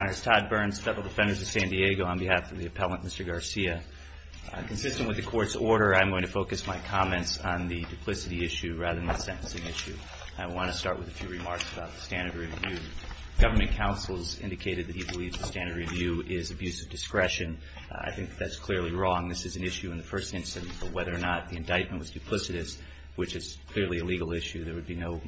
on behalf of the appellant, Mr. Garcia. Consistent with the court's order, I'm going to focus my comments on the duplicity issue rather than the sentencing issue. I want to start with a few remarks about the standard of review. Government counsels indicated that he believes the standard of review is abuse of discretion. I think that's clearly wrong. This is an issue in the first instance of whether or not the indictment was duplicitous, which is clearly a legal issue. There would be no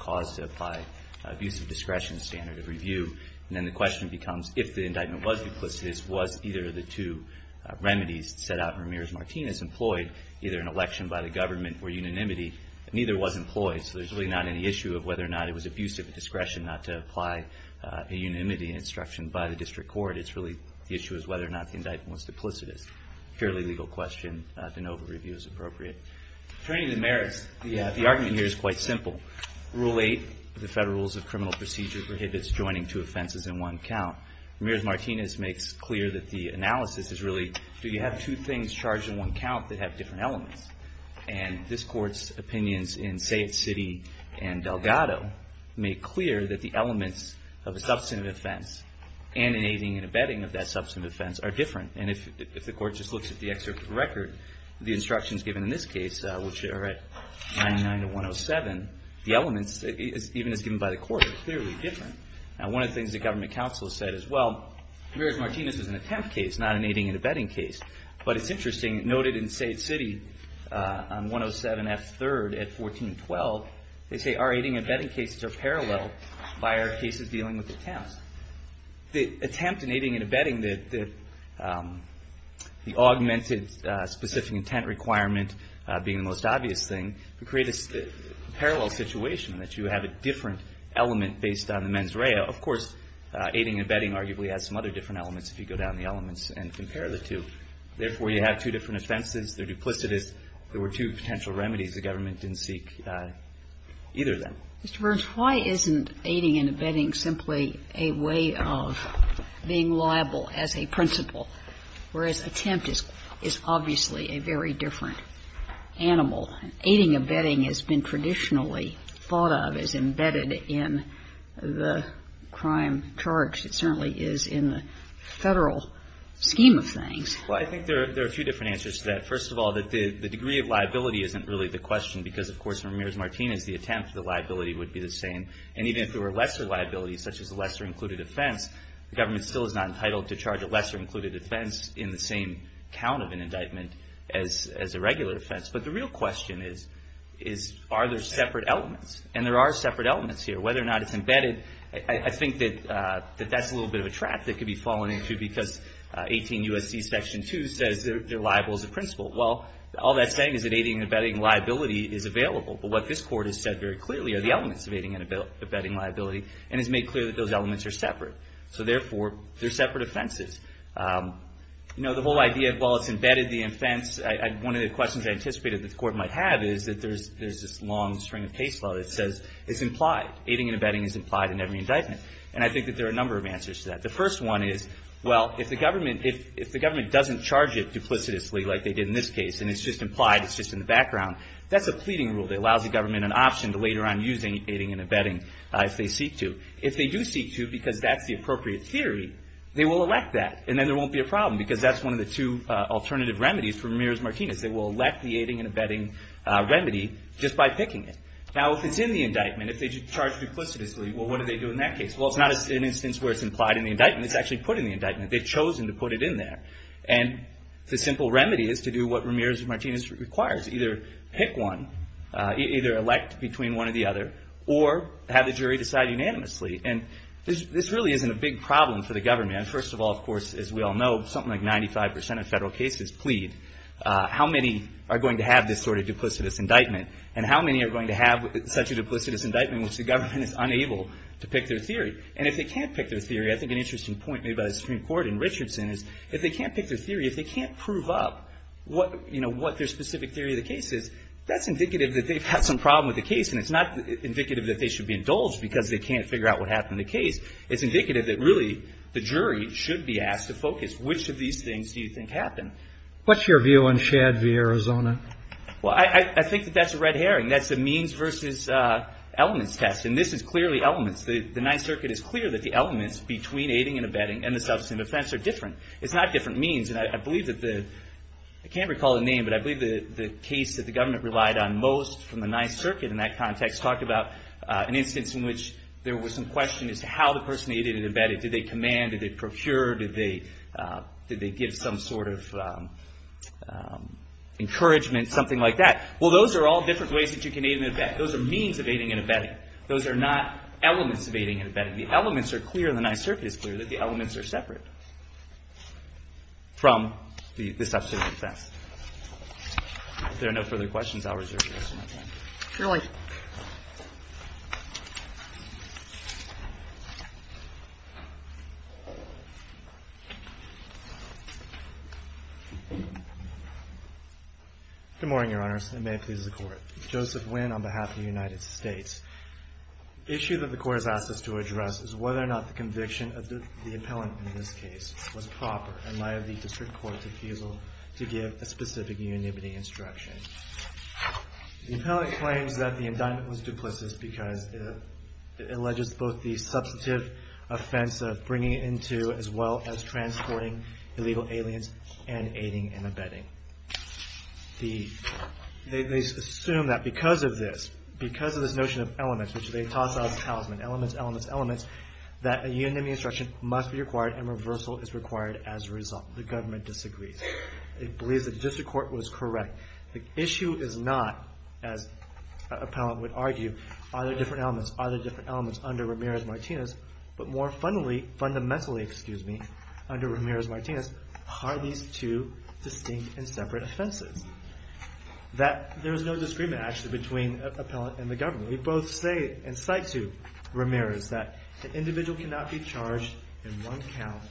cause to apply abuse of discretion to standard of review. Then the question becomes, if the indictment was duplicitous, was either of the two remedies set out in Ramirez-Martinez employed, either an election by the government or unanimity? Neither was employed, so there's really not any issue of whether or not it was abuse of discretion not to apply a unanimity instruction by the district court. It's really the issue is whether or not the indictment was duplicitous. Fairly legal question. The NOVA review is appropriate. Turning to merits, the argument here is quite simple. Rule 8 of the Federal Code states that two offenses in one count. Ramirez-Martinez makes clear that the analysis is really, do you have two things charged in one count that have different elements? And this Court's opinions in Sayette City and Delgado make clear that the elements of a substantive offense and an aiding and abetting of that substantive offense are different. And if the Court just looks at the excerpt of the record, the instructions given in this case, which are at 99 to 107, the elements, even as given by the Court, are clearly different. Now, one of the things the government counsel has said as well, Ramirez-Martinez is an attempt case, not an aiding and abetting case. But it's interesting, noted in Sayette City on 107F3rd at 1412, they say our aiding and abetting cases are parallel by our cases dealing with attempts. The attempt in aiding and abetting, the augmented specific intent requirement being the most obvious thing, would create a parallel situation, that you have a different element based on the mens rea. Of course, aiding and abetting arguably has some other different elements if you go down the elements and compare the two. Therefore, you have two different offenses. They're duplicitous. There were two potential remedies the government didn't seek either of them. Mr. Burns, why isn't aiding and abetting simply a way of being liable as a principle, whereas attempt is obviously a very different animal? Aiding and abetting has been traditionally thought of as embedded in the crime charge. It certainly is in the Federal scheme of things. Well, I think there are a few different answers to that. First of all, the degree of liability isn't really the question, because, of course, for Ramirez-Martinez, the attempt, the liability would be the same. And even if there were lesser liabilities, such as a lesser-included offense, the government still is not entitled to charge a lesser-included offense in the same count of an indictment as a regular offense. But the real question is, are there separate elements? And there are separate elements here. Whether or not it's embedded, I think that that's a little bit of a trap that could be fallen into, because 18 U.S.C. Section 2 says they're liable as a principle. Well, all that's saying is that aiding and abetting liability is available. But what this Court has said very clearly are the elements of aiding and abetting liability, and has made clear that those elements are separate. So, therefore, they're separate offenses. You know, the whole idea of, well, it's embedded, the offense. One of the questions I anticipated that the Court might have is that there's this long string of case law that says it's implied. Aiding and abetting is implied in every indictment. And I think that there are a number of answers to that. The first one is, well, if the government doesn't charge it duplicitously, like they did in this case, and it's just implied, it's just in the background, that's a pleading rule that allows the government an option to later on use aiding and abetting if they seek to. If they do seek to, because that's the appropriate theory, they will elect that. And then there won't be a problem, because that's one of the two alternative remedies for Ramirez-Martinez. They will elect the aiding and abetting remedy just by picking it. Now, if it's in the indictment, if they charge it duplicitously, well, what do they do in that case? Well, it's not an instance where it's implied in the indictment. It's actually put in the indictment. They've chosen to put it in there. And the simple remedy is to do what Ramirez-Martinez requires. Either pick one, either elect between one or the other, or have the jury decide unanimously. And this really isn't a big problem for the government. First of all, of course, as we all know, something like 95 percent of federal cases plead. How many are going to have this sort of duplicitous indictment? And how many are going to have such a duplicitous indictment in which the government is unable to pick their theory? And if they can't pick their theory, I think an interesting point made by the Supreme Court in Richardson is, if they can't pick their theory, if they can't prove up what their specific theory of the case is, that's indicative that they've had some problem with the case. And it's not indicative that they should be indulged because they can't figure out what their theory should be asked to focus. Which of these things do you think happen? What's your view on Shad v. Arizona? Well, I think that that's a red herring. That's a means versus elements test. And this is clearly elements. The Ninth Circuit is clear that the elements between aiding and abetting and the substance of offense are different. It's not different means. And I believe that the – I can't recall the name, but I believe the case that the government relied on most from the Ninth Circuit in that context talked about an instance in which there was some question as to how the person aided and abetted. Did they command? Did they procure? Did they give some sort of encouragement, something like that? Well, those are all different ways that you can aid and abet. Those are means of aiding and abetting. Those are not elements of aiding and abetting. The elements are clear and the Ninth Circuit is clear that the elements are separate from the substance of offense. If there are no further questions, I'll reserve the rest of my time. Your Honor. Good morning, Your Honors, and may it please the Court. Joseph Nguyen on behalf of the United States. The issue that the Court has asked us to address is whether or not the conviction of the appellant in this case was proper in light of the District Court's refusal to give a specific unanimity instruction. The Court claims that the indictment was duplicitous because it alleges both the substantive offense of bringing it into as well as transporting illegal aliens and aiding and abetting. They assume that because of this, because of this notion of elements, which they toss out as talisman, elements, elements, elements, that a unanimity instruction must be required and reversal is required as a result. The government disagrees. It believes that the District Court was correct. The issue is not, as an appellant would argue, are there different elements, are there different elements under Ramirez-Martinez, but more fundamentally, under Ramirez-Martinez, are these two distinct and separate offenses? There is no disagreement, actually, between the appellant and the government. We both say and cite to Ramirez that an individual cannot be charged in one count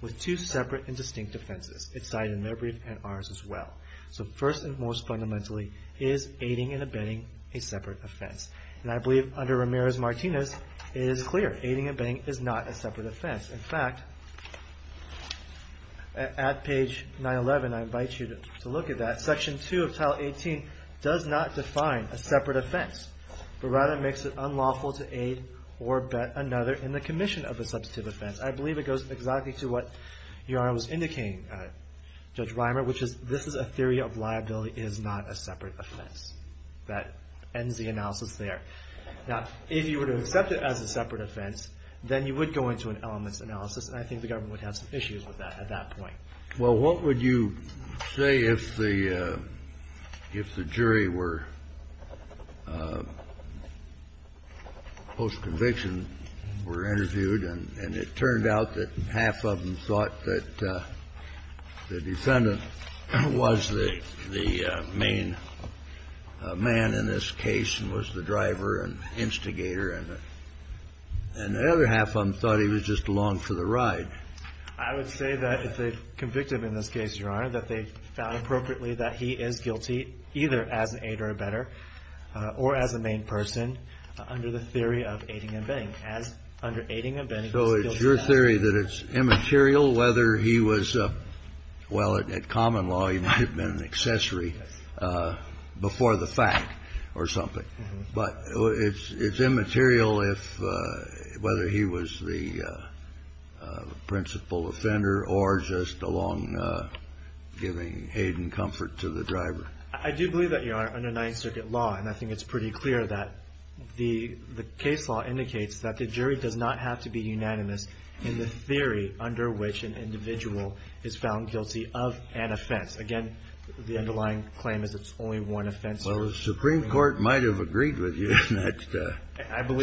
with two separate and distinct offenses. It's cited in their brief and ours as well. So first and most fundamentally, is aiding and abetting a separate offense? And I believe under Ramirez-Martinez, it is clear. Aiding and abetting is not a separate offense. In fact, at page 911, I invite you to look at that. Section 2 of Tile 18 does not define a separate offense, but rather makes it unlawful to aid or abet another in the commission of a substantive offense. I believe it goes exactly to what Your Honor was referring to in page Reimer, which is this is a theory of liability is not a separate offense. That ends the analysis there. Now, if you were to accept it as a separate offense, then you would go into an elements analysis, and I think the government would have some issues with that at that point. Well, what would you say if the jury were, post-conviction, were interviewed and it turned out that half of them thought that the defendant was the main man in this case and was the driver and instigator, and the other half of them thought he was just along for the ride? I would say that if they convicted him in this case, Your Honor, that they found appropriately that he is guilty either as an aid or abetter or as a main person under the theory of aiding and abetting. As under aiding and abetting, he's guilty of that. So it's your theory that it's immaterial whether he was a – well, at common law, he might have been an accessory before the fact or something. But it's immaterial if – whether he was the principal offender or just along giving aid and comfort to the driver. I do believe that, Your Honor, under Ninth Circuit law, and I think it's pretty clear that, the case law indicates that the jury does not have to be unanimous in the theory under which an individual is found guilty of an offense. Again, the underlying claim is it's only one offense. Well, the Supreme Court might have agreed with you in that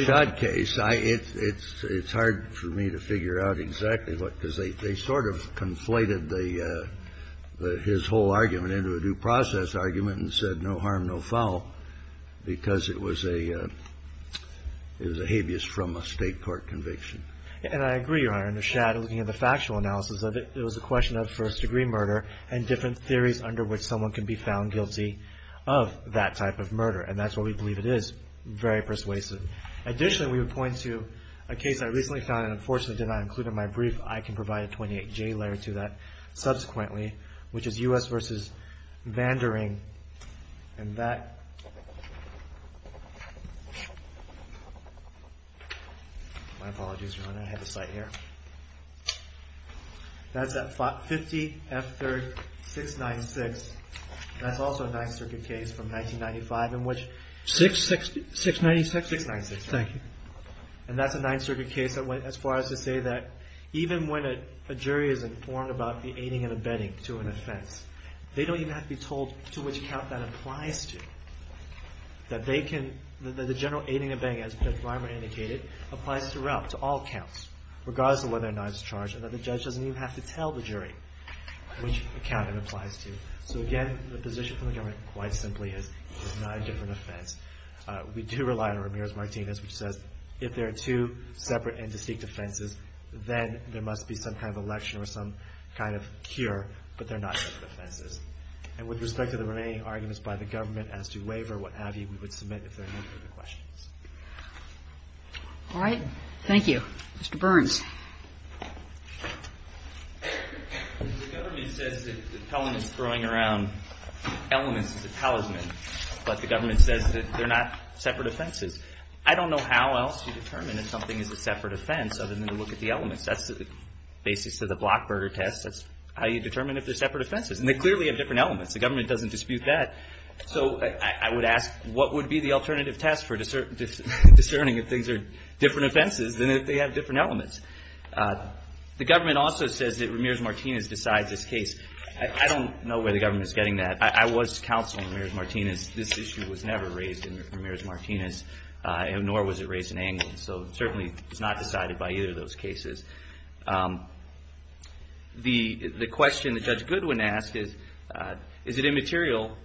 Schott case. I – it's hard for me to figure out exactly what – because they sort of conflated the – his whole argument into a due process argument and said no harm, no foul, because it was a – it was a habeas from a state court conviction. And I agree, Your Honor. In the shadow, looking at the factual analysis of it, it was a question of first degree murder and different theories under which someone can be found guilty of that type of murder. And that's what we believe it is. Very persuasive. Additionally, we would point to a case I recently found, and unfortunately did not include in my brief. I can provide a 28J letter to that subsequently, which is U.S. v. Vandering, and that – my apologies, Your Honor, I had to cite here. That's at 50 F. 3rd, 696. That's also a Ninth Circuit case from 1995 in which – 696? 696. Thank you. And that's a Ninth Circuit case that went as far as to say that even when a jury is informed about the aiding and abetting to an offense, they don't even have to be told to which count that applies to. That they can – that the general aiding and abetting, as Judge Reimer indicated, applies throughout, to all counts, regardless of whether or not it's charged, and that the judge doesn't even have to tell the jury which count it applies to. So again, the position from the government, quite simply, is it's not a different offense. We do rely on Ramirez-Martinez, which says if there are two separate and must be some kind of election or some kind of cure, but they're not separate offenses. And with respect to the remaining arguments by the government as to waiver or what have you, we would submit if there are no further questions. All right. Thank you. Mr. Burns. The government says that Pelham is throwing around elements as a talisman, but the government says that they're not separate offenses. I don't know how else to determine if something is a separate offense other than to look at the elements. That's the basis of the Blockburger test. That's how you determine if they're separate offenses. And they clearly have different elements. The government doesn't dispute that. So I would ask, what would be the alternative test for discerning if things are different offenses than if they have different elements? The government also says that Ramirez-Martinez decides this case. I don't know where the government is getting that. I was counseling Ramirez-Martinez. So certainly, it's not decided by either of those cases. The question that Judge Goodwin asked is, is it immaterial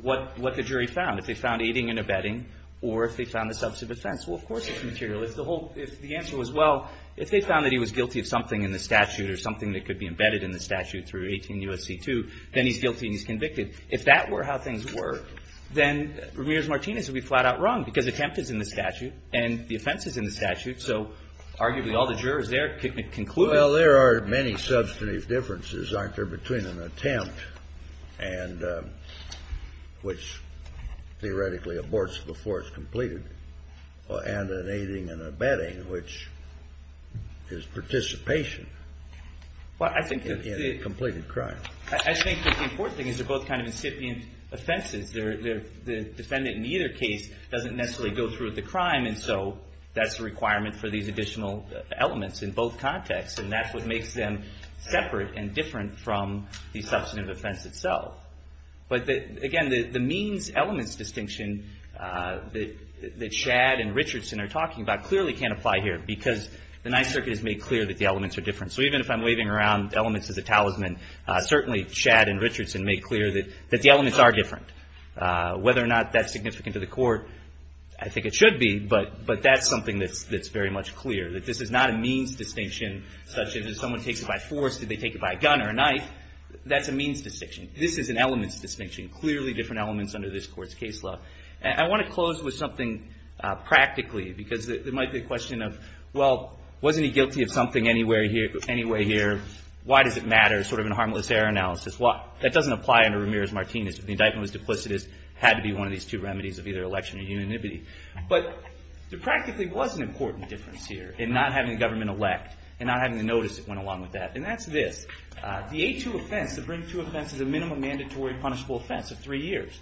what the jury found? If they found aiding and abetting or if they found a substantive offense? Well, of course it's immaterial. If the answer was, well, if they found that he was guilty of something in the statute or something that could be embedded in the statute through 18 U.S.C. 2, then he's guilty and he's convicted. If that were how things were, then Ramirez-Martinez would be flat out wrong because attempt is in the statute and the offense is in the statute. So arguably, all the jurors there could conclude that. Well, there are many substantive differences, aren't there, between an attempt and which theoretically aborts before it's completed and an aiding and abetting, which is participation in a completed crime. I think that the important thing is they're both kind of incipient offenses. The defendant in either case doesn't necessarily go through with the crime. And so that's a requirement for these additional elements in both contexts. And that's what makes them separate and different from the substantive offense itself. But again, the means-elements distinction that Shadd and Richardson are talking about clearly can't apply here because the Ninth Circuit has made clear that the elements are different. So even if I'm waving around elements as a talisman, certainly Shadd and Richardson made clear that the elements are different. Whether or not that's significant to the court, I think it should be. But that's something that's very much clear, that this is not a means distinction, such as if someone takes it by force, did they take it by a gun or a knife? That's a means distinction. This is an elements distinction, clearly different elements under this court's case law. And I want to close with something practically because there might be a question of, well, wasn't he guilty of something anyway here? Why does it matter, sort of in a harmless error analysis? That doesn't apply under Ramirez-Martinez. If the indictment was duplicitous, it had to be one of these two remedies of either election or unanimity. But there practically was an important difference here in not having the government elect and not having the notice that went along with that. And that's this. The A2 offense, the Bring II offense, is a minimum mandatory punishable offense of three years.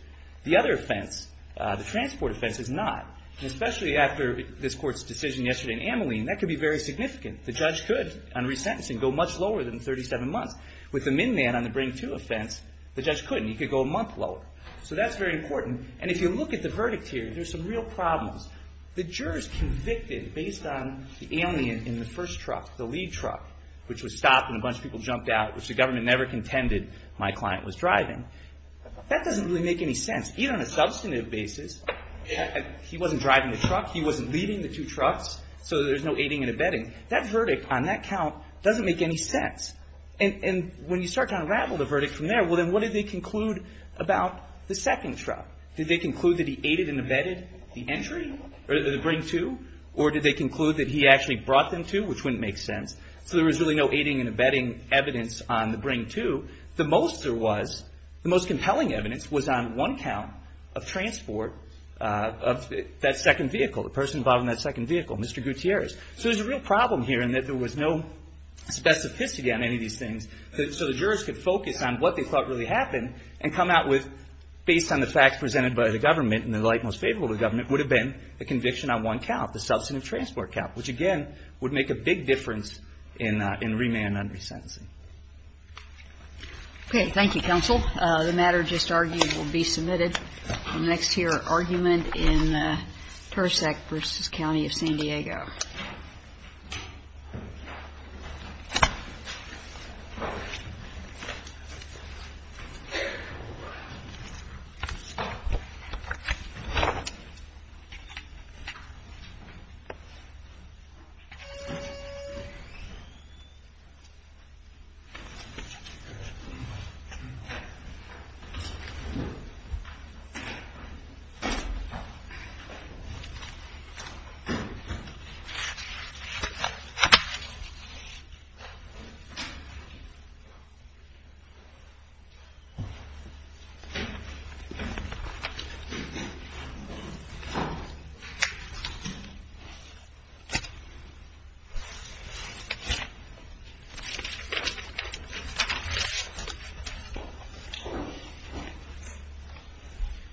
The other offense, the transport offense, is not. Especially after this court's decision yesterday in Ameline, that could be very significant. The judge could, on resentencing, go much lower than 37 months. With the min-man on the Bring II offense, the judge couldn't. He could go a month lower. So that's very important. And if you look at the verdict here, there's some real problems. The jurors convicted based on the alien in the first truck, the lead truck, which was stopped and a bunch of people jumped out, which the government never contended my client was driving. That doesn't really make any sense. Even on a substantive basis, he wasn't driving the truck. He wasn't leading the two trucks. So there's no aiding and abetting. That verdict on that count doesn't make any sense. And when you start to unravel the verdict from there, well, then what did they conclude about the second truck? Did they conclude that he aided and abetted the entry, or the Bring II? Or did they conclude that he actually brought them to, which wouldn't make sense. So there was really no aiding and abetting evidence on the Bring II. The most there was, the most compelling evidence was on one count of transport of that second vehicle, the person involved in that second vehicle, Mr. Gutierrez. So there's a real problem here in that there was no specificity on any of these things, so the jurors could focus on what they thought really happened and come out with, based on the facts presented by the government and the light most favorable to the government, would have been a conviction on one count, the substantive transport count, which again would make a big difference in remand and resentencing. Okay. Thank you, counsel. The matter just argued will be submitted in the next year argument in Persak versus County of San Diego.